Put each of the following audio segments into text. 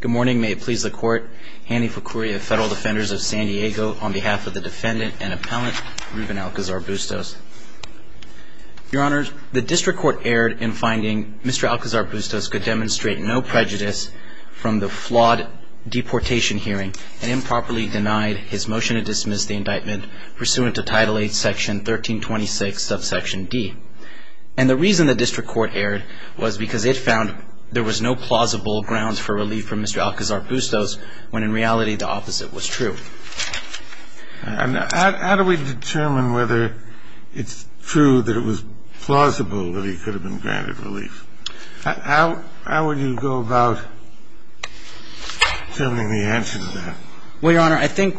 Good morning, may it please the court, Hanny Ficuri of Federal Defenders of San Diego, on behalf of the defendant and appellant, Ruben Alcazar-Bustos. Your honors, the district court erred in finding Mr. Alcazar-Bustos could demonstrate no prejudice from the flawed deportation hearing and improperly denied his motion to dismiss the indictment pursuant to Title 8, Section 1326, Subsection D. And the reason the district court erred was because it found there was no plausible grounds for relief from Mr. Alcazar-Bustos when in reality the opposite was true. And how do we determine whether it's true that it was plausible that he could have been granted relief? How would you go about determining the answer to that? Well, Your Honor, I think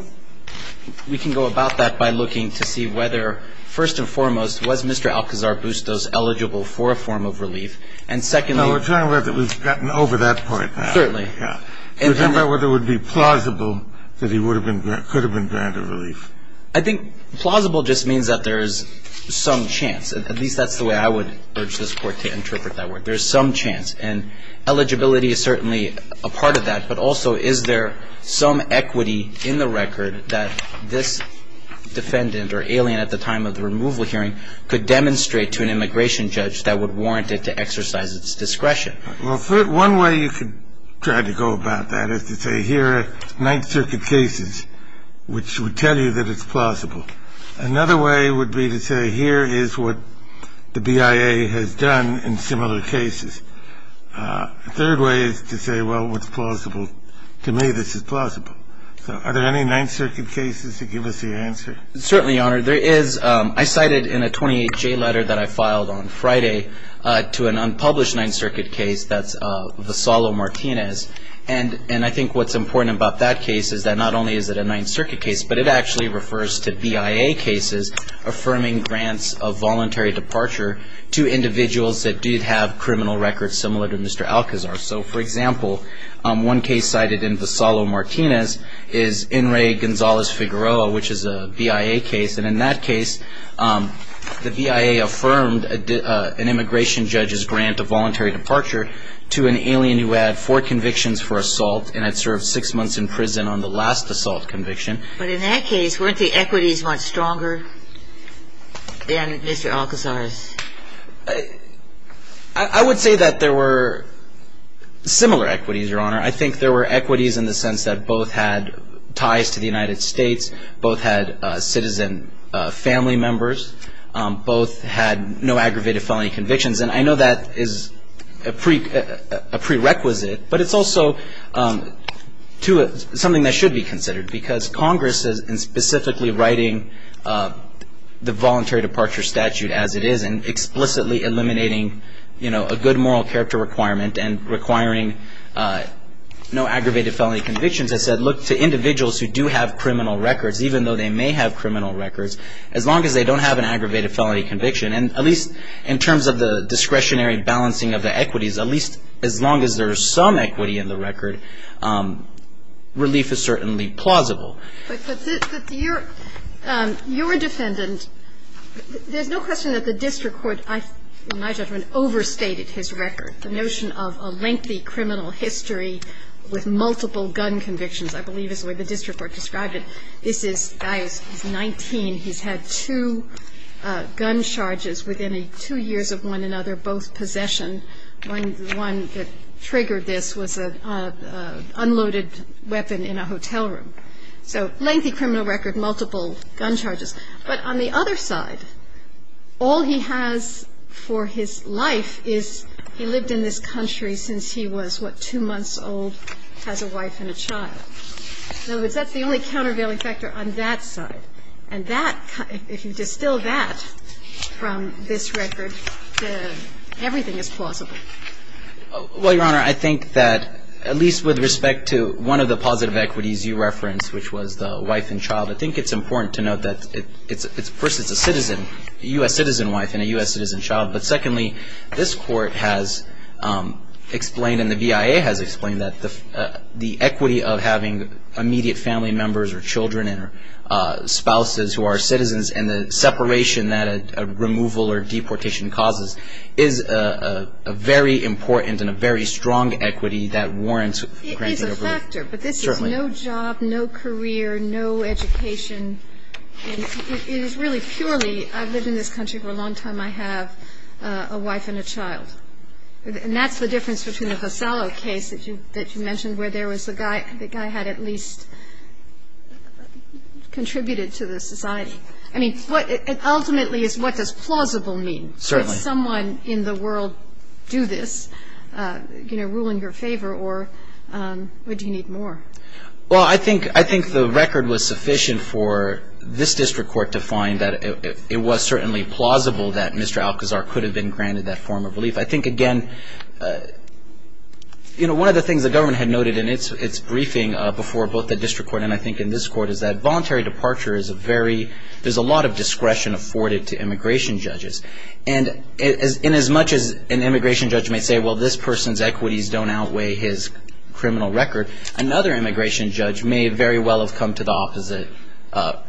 we can go about that by looking to see whether, first and foremost, was Mr. Alcazar-Bustos eligible for a form of relief? And secondly — No, we're talking about that we've gotten over that part now. Certainly. We're talking about whether it would be plausible that he could have been granted relief. I think plausible just means that there is some chance. At least that's the way I would urge this Court to interpret that word. There's some chance. And eligibility is certainly a part of that. But also, is there some equity in the record that this defendant or alien at the time of the removal hearing could demonstrate to an immigration judge that would warrant it to exercise its discretion? Well, one way you could try to go about that is to say, here are Ninth Circuit cases which would tell you that it's plausible. Another way would be to say, here is what the BIA has done in similar cases. A third way is to say, well, what's plausible? To me, this is plausible. So are there any Ninth Circuit cases to give us the answer? Certainly, Your Honor. There is. I cited in a 28-J letter that I filed on Friday to an unpublished Ninth Circuit case that's Vassallo-Martinez. And I think what's important about that case is that not only is it a Ninth Circuit case, but it actually refers to BIA cases affirming grants of voluntary departure to individuals that do have criminal records similar to Mr. Alcazar. So, for example, one case cited in Vassallo-Martinez is Enri Gonzalez-Figueroa, which is a BIA case. And in that case, the BIA affirmed an immigration judge's grant of voluntary departure to an alien who had four convictions for assault and had served six months in prison on the last assault conviction. But in that case, weren't the equities much stronger than Mr. Alcazar's? I would say that there were similar equities, Your Honor. I think there were equities in the sense that both had ties to the United States, both had citizen family members, both had no aggravated felony convictions. And I know that is a prerequisite, but it's also something that should be considered because Congress is specifically writing the voluntary departure statute as it is and explicitly eliminating, you know, a good moral character requirement and requiring no aggravated felony convictions. I said, look, to individuals who do have criminal records, even though they may have criminal records, as long as they don't have an aggravated felony conviction, and at least in terms of the discretionary balancing of the equities, at least as long as there is some equity in the record, relief is certainly plausible. But your defendant, there's no question that the district court, in my judgment, overstated his record. The notion of a lengthy criminal history with multiple gun convictions, I believe is the way the district court described it. This guy is 19. He's had two gun charges within two years of one another, both possession. One that triggered this was an unloaded weapon in a hotel room. So lengthy criminal record, multiple gun charges. But on the other side, all he has for his life is he lived in this country since he was, what, two months old, has a wife and a child. In other words, that's the only countervailing factor on that side. And that, if you distill that from this record, everything is plausible. Well, Your Honor, I think that at least with respect to one of the positive equities you referenced, which was the wife and child, I think it's important to note that first it's a citizen, a U.S. citizen wife and a U.S. citizen child. But secondly, this court has explained and the BIA has explained that the equity of having immediate family members or children and spouses who are very important and a very strong equity that warrants granting of relief. It is a factor, but this is no job, no career, no education. It is really purely I've lived in this country for a long time. I have a wife and a child. And that's the difference between the Vassallo case that you mentioned where there was a guy, the guy had at least contributed to the society. I mean, ultimately, what does plausible mean? Certainly. Does someone in the world do this, you know, ruling your favor, or would you need more? Well, I think the record was sufficient for this district court to find that it was certainly plausible that Mr. Alcazar could have been granted that form of relief. I think, again, you know, one of the things the government had noted in its briefing before both the district court and I think in this court is that voluntary departure is a very, there's a lot of discretion afforded to immigration judges. And as much as an immigration judge may say, well, this person's equities don't outweigh his criminal record, another immigration judge may very well have come to the opposite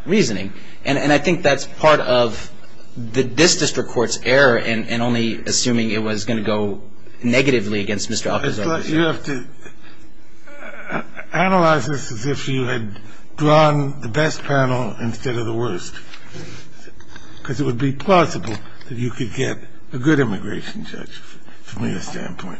reasoning. And I think that's part of this district court's error in only assuming it was going to go negatively against Mr. Alcazar. But you have to analyze this as if you had drawn the best panel instead of the worst, because it would be plausible that you could get a good immigration judge from your standpoint.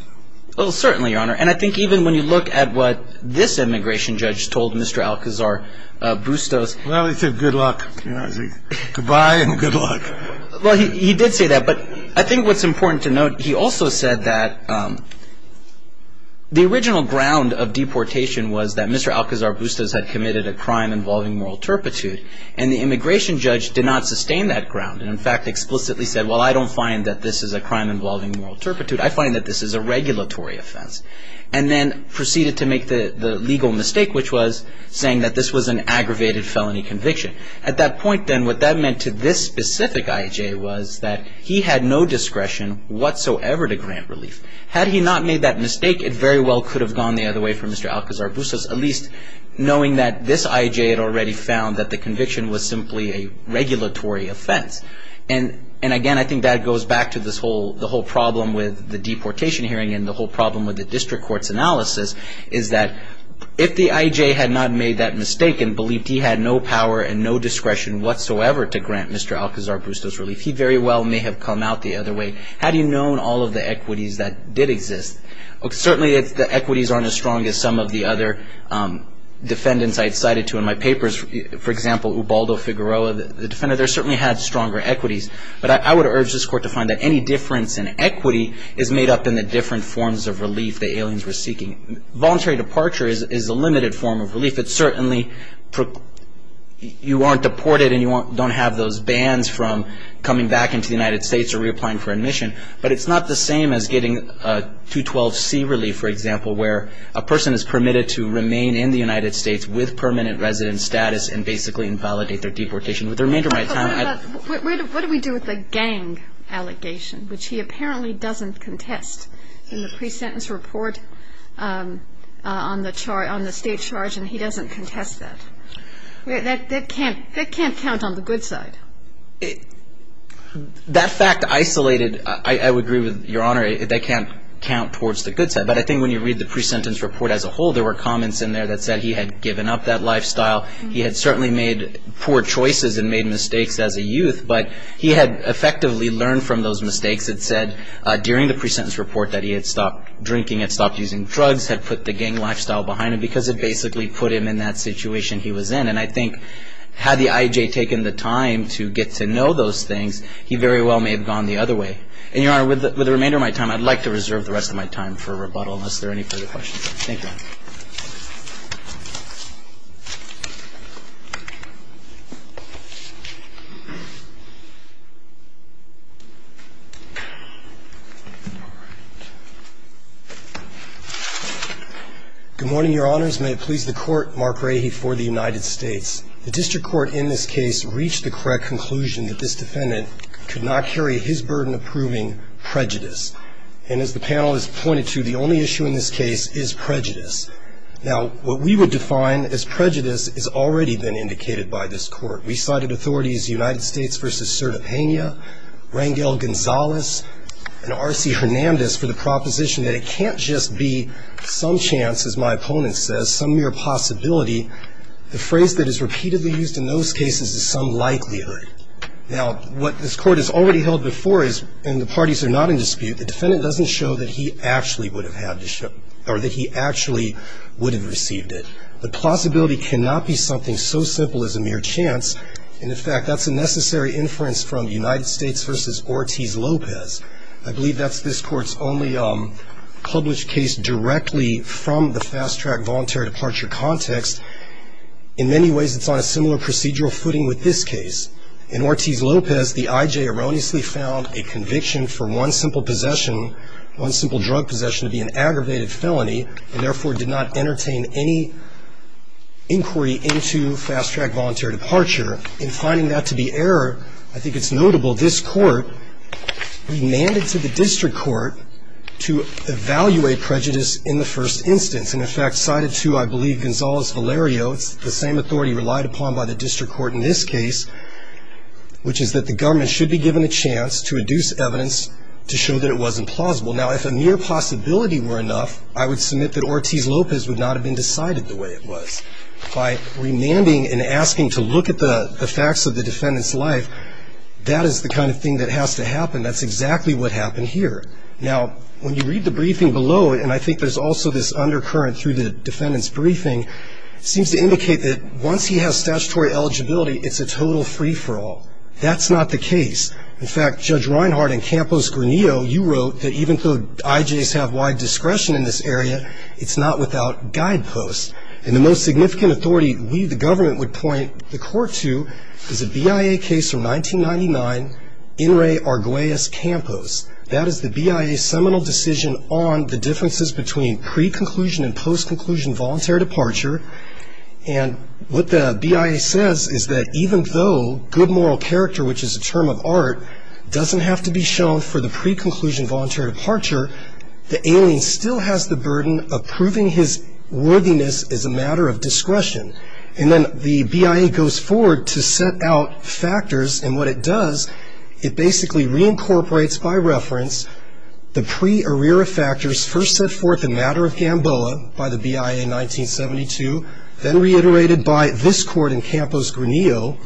Well, certainly, Your Honor. And I think even when you look at what this immigration judge told Mr. Alcazar, Bustos. Well, he said good luck. You know, he said goodbye and good luck. Well, he did say that. But I think what's important to note, he also said that the original ground of deportation was that Mr. Alcazar Bustos had committed a crime involving moral turpitude, and the immigration judge did not sustain that ground and, in fact, explicitly said, well, I don't find that this is a crime involving moral turpitude. I find that this is a regulatory offense, and then proceeded to make the legal mistake, which was saying that this was an aggravated felony conviction. At that point, then, what that meant to this specific I.E.J. was that he had no discretion whatsoever to grant relief. Had he not made that mistake, it very well could have gone the other way for Mr. Alcazar Bustos, at least knowing that this I.E.J. had already found that the conviction was simply a regulatory offense. And, again, I think that goes back to the whole problem with the deportation hearing and the whole problem with the district court's analysis is that if the I.E.J. had not made that mistake and believed he had no power and no discretion whatsoever to grant Mr. Alcazar Bustos relief, he very well may have come out the other way had he known all of the equities that did exist. Certainly, the equities aren't as strong as some of the other defendants I had cited to in my papers. For example, Ubaldo Figueroa, the defender, there certainly had stronger equities, but I would urge this court to find that any difference in equity is made up in the different forms of relief the aliens were seeking. Voluntary departure is a limited form of relief. It certainly, you aren't deported and you don't have those bans from coming back into the United States or reapplying for admission, but it's not the same as getting a 212C relief, for example, where a person is permitted to remain in the United States with permanent resident status and basically invalidate their deportation with the remainder of my time. What do we do with the gang allegation, which he apparently doesn't contest in the pre-sentence report on the state charge, and he doesn't contest that? That can't count on the good side. That fact isolated, I would agree with Your Honor, that can't count towards the good side, but I think when you read the pre-sentence report as a whole, there were comments in there that said he had given up that lifestyle. He had certainly made poor choices and made mistakes as a youth, but he had effectively learned from those mistakes. It said during the pre-sentence report that he had stopped drinking, had stopped using drugs, had put the gang lifestyle behind him, because it basically put him in that situation he was in. And I think had the IJ taken the time to get to know those things, he very well may have gone the other way. And Your Honor, with the remainder of my time, I'd like to reserve the rest of my time for rebuttal unless there are any further questions. Thank you. All right. Good morning, Your Honors. May it please the Court, Mark Rahe for the United States. The district court in this case reached the correct conclusion that this defendant could not carry his burden of proving prejudice. And as the panel has pointed to, the only issue in this case is prejudice. Now, what we would define as prejudice has already been indicated by this court. We cited authorities, United States v. Sertapenia, Rangel Gonzalez, and R.C. Hernandez for the proposition that it can't just be some chance, as my opponent says, some mere possibility. The phrase that is repeatedly used in those cases is some likelihood. Now, what this court has already held before is, and the parties are not in dispute, the defendant doesn't show that he actually would have had to show or that he actually would have received it. The possibility cannot be something so simple as a mere chance. And, in fact, that's a necessary inference from United States v. Ortiz-Lopez. I believe that's this Court's only published case directly from the fast-track voluntary departure context. In many ways, it's on a similar procedural footing with this case. In Ortiz-Lopez, the I.J. erroneously found a conviction for one simple possession, one simple drug possession, to be an aggravated felony, and therefore did not entertain any inquiry into fast-track voluntary departure. In finding that to be error, I think it's notable this Court remanded to the district court to evaluate prejudice in the first instance. And, in fact, cited to, I believe, Gonzalez-Valerio, it's the same authority relied upon by the district court in this case, which is that the government should be given a chance to induce evidence to show that it wasn't plausible. Now, if a mere possibility were enough, I would submit that Ortiz-Lopez would not have been decided the way it was. By remanding and asking to look at the facts of the defendant's life, that is the kind of thing that has to happen. That's exactly what happened here. Now, when you read the briefing below, and I think there's also this undercurrent through the defendant's briefing, it seems to indicate that once he has statutory eligibility, it's a total free-for-all. That's not the case. In fact, Judge Reinhardt and Campos-Granillo, you wrote that even though I.J.'s have wide discretion in this area, it's not without guideposts. And the most significant authority we, the government, would point the Court to is a BIA case from 1999, In re Arguellas-Campos. That is the BIA's seminal decision on the differences between pre-conclusion and post-conclusion voluntary departure. And what the BIA says is that even though good moral character, which is a term of art, doesn't have to be shown for the pre-conclusion voluntary departure, the alien still has the burden of proving his worthiness as a matter of discretion. And then the BIA goes forward to set out factors, and what it does, it basically reincorporates by reference the pre-arrea factors first set forth in Matter of Gamboa by the BIA in 1972, then reiterated by this Court in Campos-Granillo,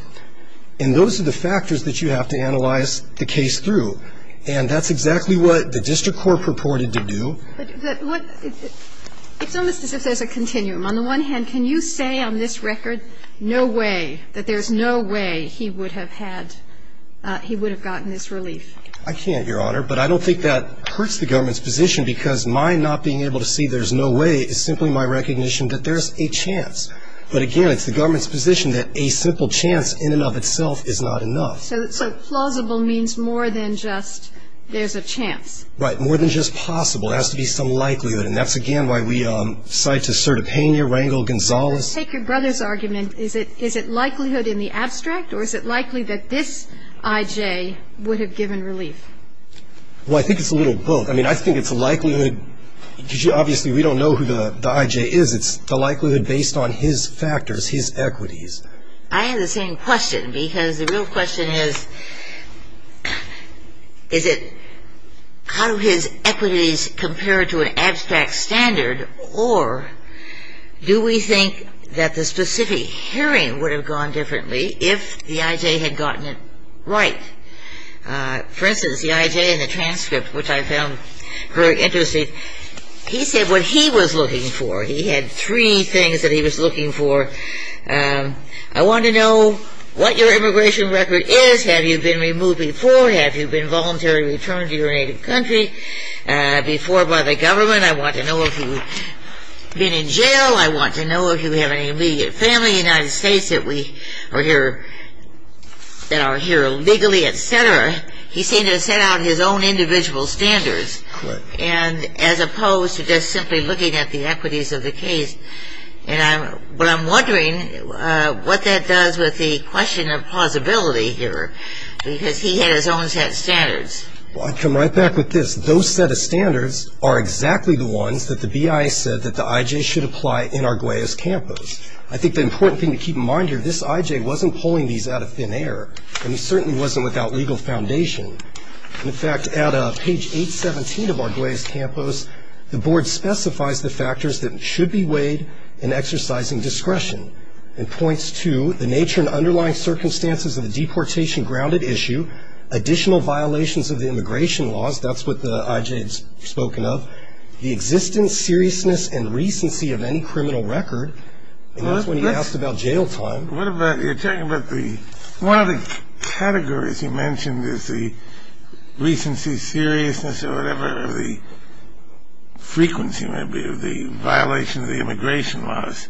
and those are the factors that you have to analyze the case through. And that's exactly what the district court purported to do. But what – it's almost as if there's a continuum. On the one hand, can you say on this record no way, that there's no way he would have had – he would have gotten this relief? I can't, Your Honor, but I don't think that hurts the government's position because my not being able to see there's no way is simply my recognition that there's a chance. But again, it's the government's position that a simple chance in and of itself is not enough. So plausible means more than just there's a chance. Right, more than just possible. There has to be some likelihood, and that's again why we cite to Sertipenia, Rangel, Gonzalez. If you take your brother's argument, is it likelihood in the abstract, or is it likely that this I.J. would have given relief? Well, I think it's a little both. I mean, I think it's a likelihood because obviously we don't know who the I.J. is. It's the likelihood based on his factors, his equities. I have the same question because the real question is, is it how his equities compare to an abstract standard, or do we think that the specific hearing would have gone differently if the I.J. had gotten it right? For instance, the I.J. in the transcript, which I found very interesting, he said what he was looking for. He had three things that he was looking for. I want to know what your immigration record is. Have you been removed before? Have you been voluntarily returned to your native country before by the government? I want to know if you've been in jail. I want to know if you have any immediate family in the United States that are here legally, et cetera. He seemed to have set out his own individual standards as opposed to just simply looking at the equities of the case. But I'm wondering what that does with the question of plausibility here because he had his own set of standards. Well, I'd come right back with this. Those set of standards are exactly the ones that the BIA said that the I.J. should apply in Arguellas-Campos. I think the important thing to keep in mind here, this I.J. wasn't pulling these out of thin air, and he certainly wasn't without legal foundation. In fact, at page 817 of Arguellas-Campos, the board specifies the factors that should be weighed in exercising discretion and points to the nature and underlying circumstances of the deportation grounded issue, additional violations of the immigration laws, that's what the I.J. has spoken of, the existence, seriousness, and recency of any criminal record. And that's when he asked about jail time. You're talking about the one of the categories you mentioned is the recency, seriousness, or whatever the frequency may be of the violation of the immigration laws.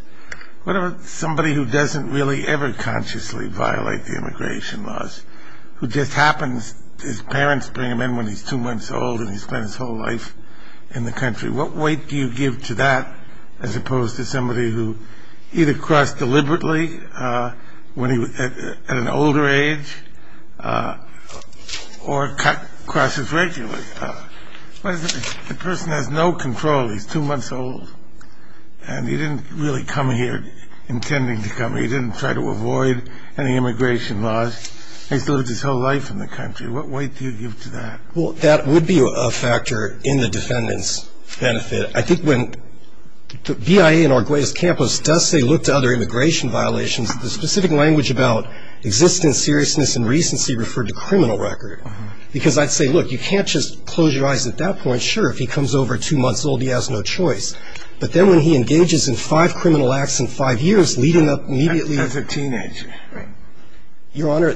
What about somebody who doesn't really ever consciously violate the immigration laws, who just happens, his parents bring him in when he's two months old and he spends his whole life in the country? What weight do you give to that as opposed to somebody who either crossed deliberately at an older age or crosses regularly? The person has no control. He's two months old, and he didn't really come here intending to come. He didn't try to avoid any immigration laws. He's lived his whole life in the country. What weight do you give to that? Well, that would be a factor in the defendant's benefit. I think when the BIA in Arguellas-Campos does say look to other immigration violations, the specific language about existence, seriousness, and recency referred to criminal record, because I'd say, look, you can't just close your eyes at that point. Sure, if he comes over two months old, he has no choice. But then when he engages in five criminal acts in five years, leading up immediately. As a teenager. Right. Your Honor,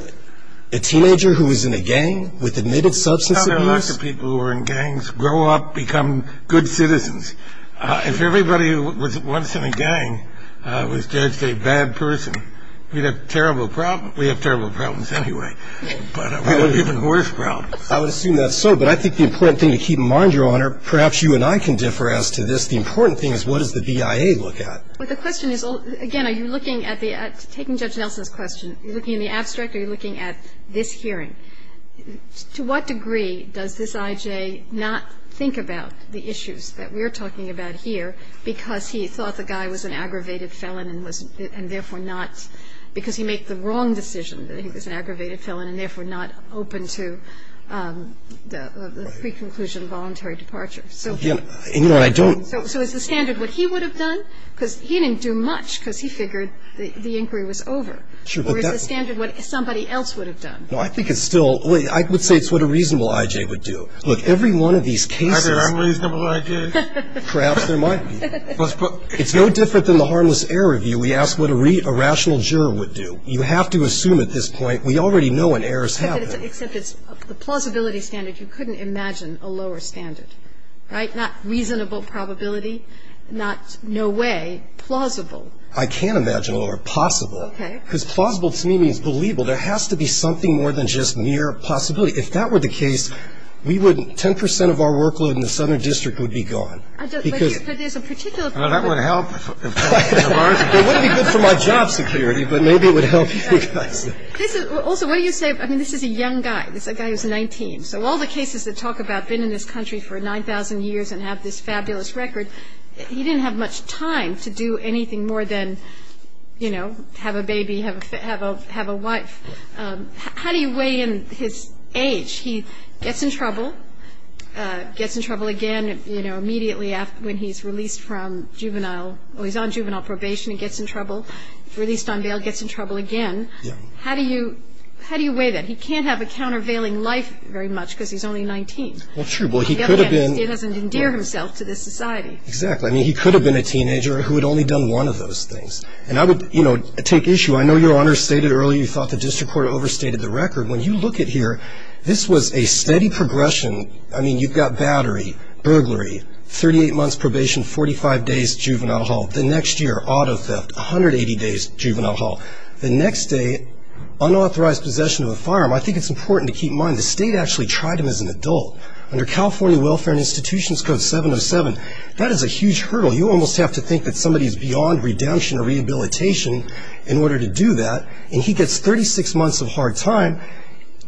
a teenager who was in a gang with admitted substance abuse. Now there are lots of people who are in gangs, grow up, become good citizens. If everybody who was once in a gang was judged a bad person, we'd have terrible problems. We have terrible problems anyway. But we have even worse problems. I would assume that's so. But I think the important thing to keep in mind, Your Honor, perhaps you and I can differ as to this. The important thing is what does the BIA look at? Well, the question is, again, are you looking at the – taking Judge Nelson's question, are you looking in the abstract or are you looking at this hearing? To what degree does this I.J. not think about the issues that we're talking about here because he thought the guy was an aggravated felon and was – and therefore not – because he made the wrong decision that he was an aggravated felon and therefore not open to the pre-conclusion voluntary departure. So – Your Honor, I don't – So is the standard what he would have done? Because he didn't do much because he figured the inquiry was over. Sure, but that – Or is the standard what somebody else would have done? No, I think it's still – I would say it's what a reasonable I.J. would do. Look, every one of these cases – Are there unreasonable I.J.s? Perhaps there might be. It's no different than the harmless error review. We ask what a rational juror would do. You have to assume at this point – we already know when errors happen. Except it's the plausibility standard. You couldn't imagine a lower standard, right? Not reasonable probability, not no way, plausible. I can imagine a lower – possible. Okay. Because plausible to me means believable. There has to be something more than just mere possibility. If that were the case, we wouldn't – 10 percent of our workload in the Southern District would be gone because – But there's a particular – That would help quite a margin. It wouldn't be good for my job security, but maybe it would help you guys. Also, what do you say – I mean, this is a young guy. This is a guy who's 19. So all the cases that talk about been in this country for 9,000 years and have this fabulous record, he didn't have much time to do anything more than, you know, have a baby, have a wife. How do you weigh in his age? He gets in trouble, gets in trouble again, you know, immediately when he's released from juvenile – or he's on juvenile probation and gets in trouble. Released on bail, gets in trouble again. How do you weigh that? He can't have a countervailing life very much because he's only 19. Well, true. But he could have been – He doesn't endear himself to this society. Exactly. I mean, he could have been a teenager who had only done one of those things. And I would, you know, take issue. I know Your Honor stated earlier you thought the district court overstated the record. When you look at here, this was a steady progression. I mean, you've got battery, burglary, 38 months probation, 45 days juvenile hall. The next year, auto theft, 180 days juvenile hall. The next day, unauthorized possession of a firearm. I think it's important to keep in mind the state actually tried him as an adult. Under California Welfare and Institutions Code 707, that is a huge hurdle. You almost have to think that somebody is beyond redemption or rehabilitation in order to do that. And he gets 36 months of hard time.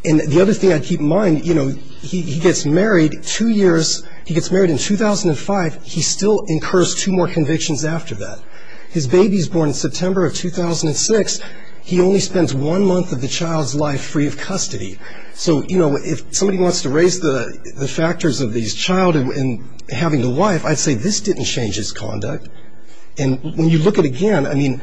And the other thing I keep in mind, you know, he gets married two years. He gets married in 2005. He still incurs two more convictions after that. His baby is born in September of 2006. He only spends one month of the child's life free of custody. So, you know, if somebody wants to raise the factors of the child having a wife, I'd say this didn't change his conduct. And when you look at, again, I mean,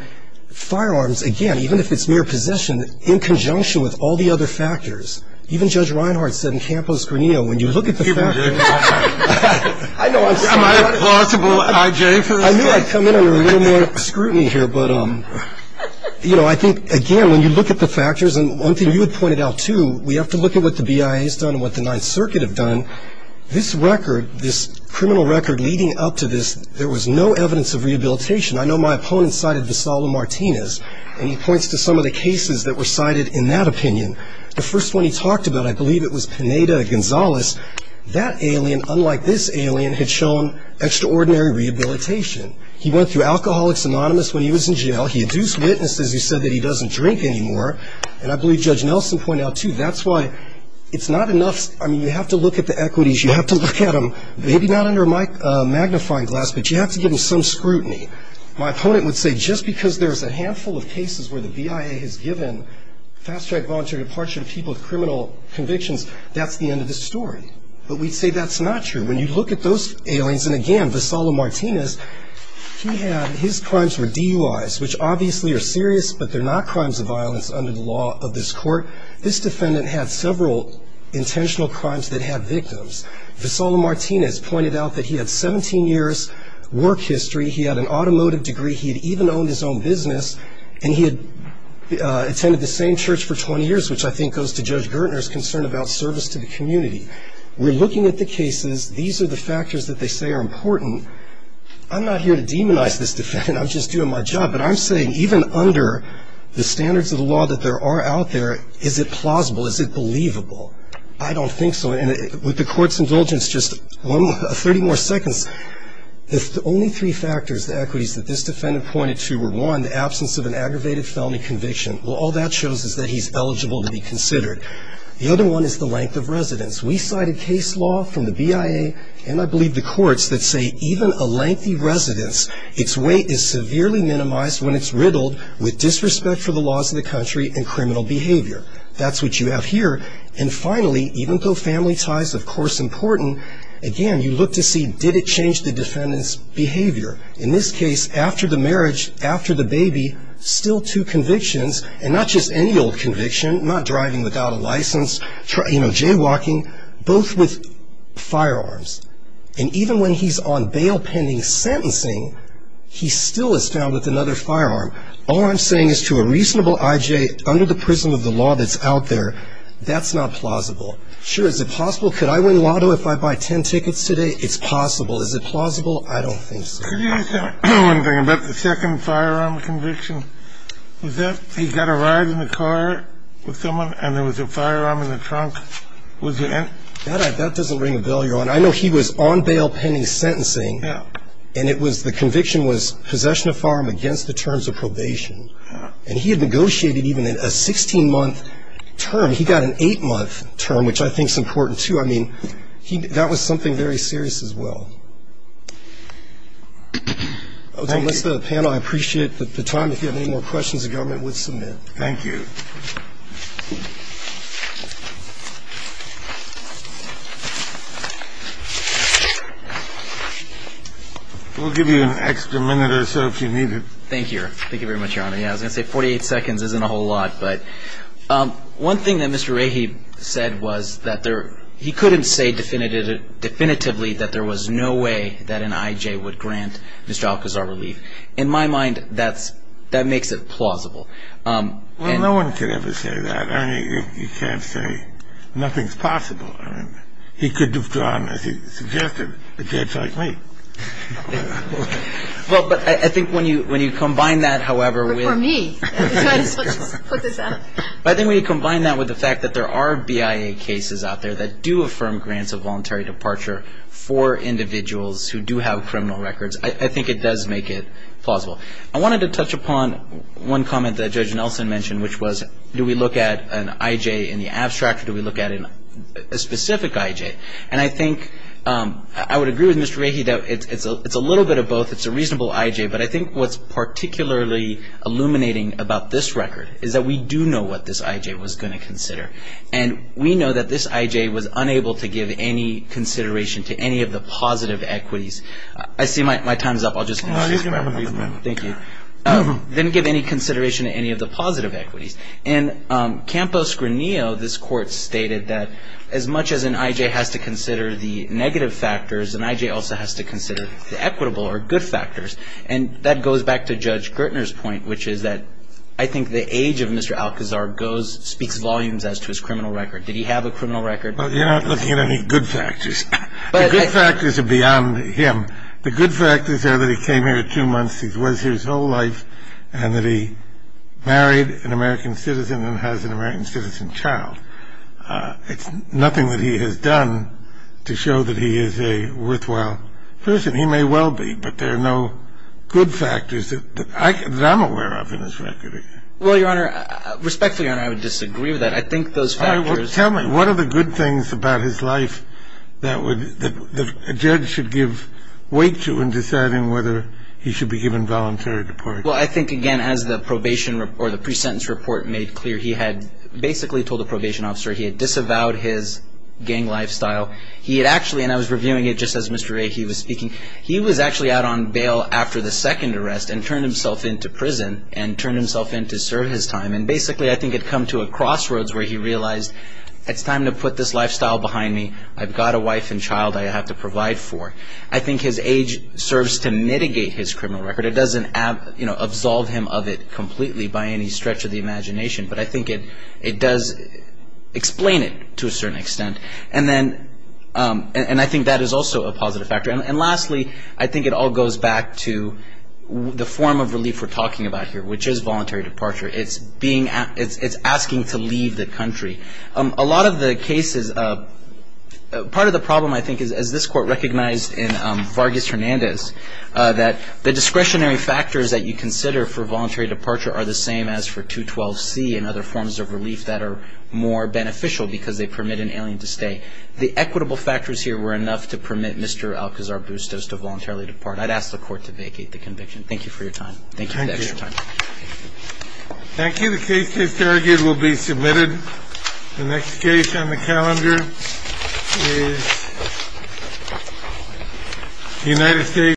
firearms, again, even if it's mere possession, in conjunction with all the other factors. Even Judge Reinhart said in Campos-Granillo, when you look at the factors. Am I a plausible I.J. for this case? I knew I'd come in under a little more scrutiny here. But, you know, I think, again, when you look at the factors, and one thing you had pointed out, too, we have to look at what the BIA has done and what the Ninth Circuit have done. This record, this criminal record leading up to this, there was no evidence of rehabilitation. I know my opponent cited Vassallo-Martinez, and he points to some of the cases that were cited in that opinion. The first one he talked about, I believe it was Pineda-Gonzalez. That alien, unlike this alien, had shown extraordinary rehabilitation. He went through Alcoholics Anonymous when he was in jail. He induced witnesses who said that he doesn't drink anymore. And I believe Judge Nelson pointed out, too, that's why it's not enough. I mean, you have to look at the equities. You have to look at them, maybe not under a magnifying glass, but you have to give them some scrutiny. My opponent would say just because there's a handful of cases where the BIA has given fast-track voluntary departure to people with criminal convictions, that's the end of the story. But we'd say that's not true. When you look at those aliens, and, again, Vassallo-Martinez, he had his crimes were DUIs, which obviously are serious, but they're not crimes of violence under the law of this court. This defendant had several intentional crimes that had victims. Vassallo-Martinez pointed out that he had 17 years' work history. He had an automotive degree. He had even owned his own business, and he had attended the same church for 20 years, which I think goes to Judge Gertner's concern about service to the community. We're looking at the cases. These are the factors that they say are important. I'm not here to demonize this defendant. I'm just doing my job. But I'm saying even under the standards of the law that there are out there, is it plausible? Is it believable? I don't think so. And with the court's indulgence, just 30 more seconds. If the only three factors, the equities that this defendant pointed to were, one, the absence of an aggravated felony conviction, well, all that shows is that he's eligible to be considered. The other one is the length of residence. We cited case law from the BIA, and I believe the courts, that say even a lengthy residence, its weight is severely minimized when it's riddled with disrespect for the laws of the country and criminal behavior. That's what you have here. And finally, even though family ties, of course, are important, again, you look to see did it change the defendant's behavior. In this case, after the marriage, after the baby, still two convictions, and not just any old conviction, not driving without a license, you know, jaywalking, both with firearms. And even when he's on bail pending sentencing, he still is found with another firearm. All I'm saying is to a reasonable I.J., under the prism of the law that's out there, that's not plausible. Sure, is it possible? Could I win lotto if I buy 10 tickets today? It's possible. Is it plausible? I don't think so. Could you say one thing about the second firearm conviction? Was that he got a ride in the car with someone, and there was a firearm in the trunk? That doesn't ring a bell, Your Honor. I know he was on bail pending sentencing, and it was the conviction was possession of firearm against the terms of probation. And he had negotiated even a 16-month term. He got an 8-month term, which I think is important, too. I mean, that was something very serious as well. Let's end the panel. I appreciate the time. If you have any more questions, the government would submit. Thank you. We'll give you an extra minute or so if you need it. Thank you. Thank you very much, Your Honor. Yeah, I was going to say 48 seconds isn't a whole lot, but one thing that Mr. Rahe said was that he couldn't say definitively that there was no way that an I.J. would grant Mr. Alcazar relief. In my mind, that makes it plausible. Well, no one could ever say that. I mean, you can't say nothing's possible. I mean, he could have gone, as he suggested, but that's like me. Well, but I think when you combine that, however, with... But for me. Let's put this out. I think when you combine that with the fact that there are BIA cases out there that do affirm grants of voluntary departure for individuals who do have criminal records, I think it does make it plausible. I wanted to touch upon one comment that Judge Nelson mentioned, which was do we look at an I.J. in the abstract or do we look at it in a specific I.J.? And I think I would agree with Mr. Rahe that it's a little bit of both. It's a reasonable I.J., but I think what's particularly illuminating about this record is that we do know what this I.J. was going to consider, and we know that this I.J. was unable to give any consideration to any of the positive equities. I see my time's up. I'll just... He's going to have a moment. Thank you. Didn't give any consideration to any of the positive equities. In Campos-Granillo, this court stated that as much as an I.J. has to consider the negative factors, an I.J. also has to consider the equitable or good factors. And that goes back to Judge Gertner's point, which is that I think the age of Mr. Alcazar speaks volumes as to his criminal record. Did he have a criminal record? You're not looking at any good factors. The good factors are beyond him. The good factors are that he came here two months, he was here his whole life, and that he married an American citizen and has an American citizen child. It's nothing that he has done to show that he is a worthwhile person. He may well be, but there are no good factors that I'm aware of in his record. Well, Your Honor, respectfully, Your Honor, I would disagree with that. I think those factors... Tell me, what are the good things about his life that a judge should give weight to in deciding whether he should be given voluntary deportation? Well, I think, again, as the probation or the pre-sentence report made clear, he had basically told the probation officer he had disavowed his gang lifestyle. He had actually, and I was reviewing it just as Mr. Ahe was speaking, he was actually out on bail after the second arrest and turned himself into prison and turned himself in to serve his time. And basically, I think it had come to a crossroads where he realized, it's time to put this lifestyle behind me. I've got a wife and child I have to provide for. I think his age serves to mitigate his criminal record. It doesn't absolve him of it completely by any stretch of the imagination, but I think it does explain it to a certain extent. And I think that is also a positive factor. And lastly, I think it all goes back to the form of relief we're talking about here, which is voluntary departure. It's asking to leave the country. A lot of the cases, part of the problem, I think, is, as this court recognized in Vargas Hernandez, that the discretionary factors that you consider for voluntary departure are the same as for 212C and other forms of relief that are more beneficial because they permit an alien to stay. The equitable factors here were enough to permit Mr. Alcazar-Bustos to voluntarily depart. I'd ask the court to vacate the conviction. Thank you for your time. Thank you for the extra time. Thank you. Thank you. The case is derogated. It will be submitted. The next case on the calendar is United States.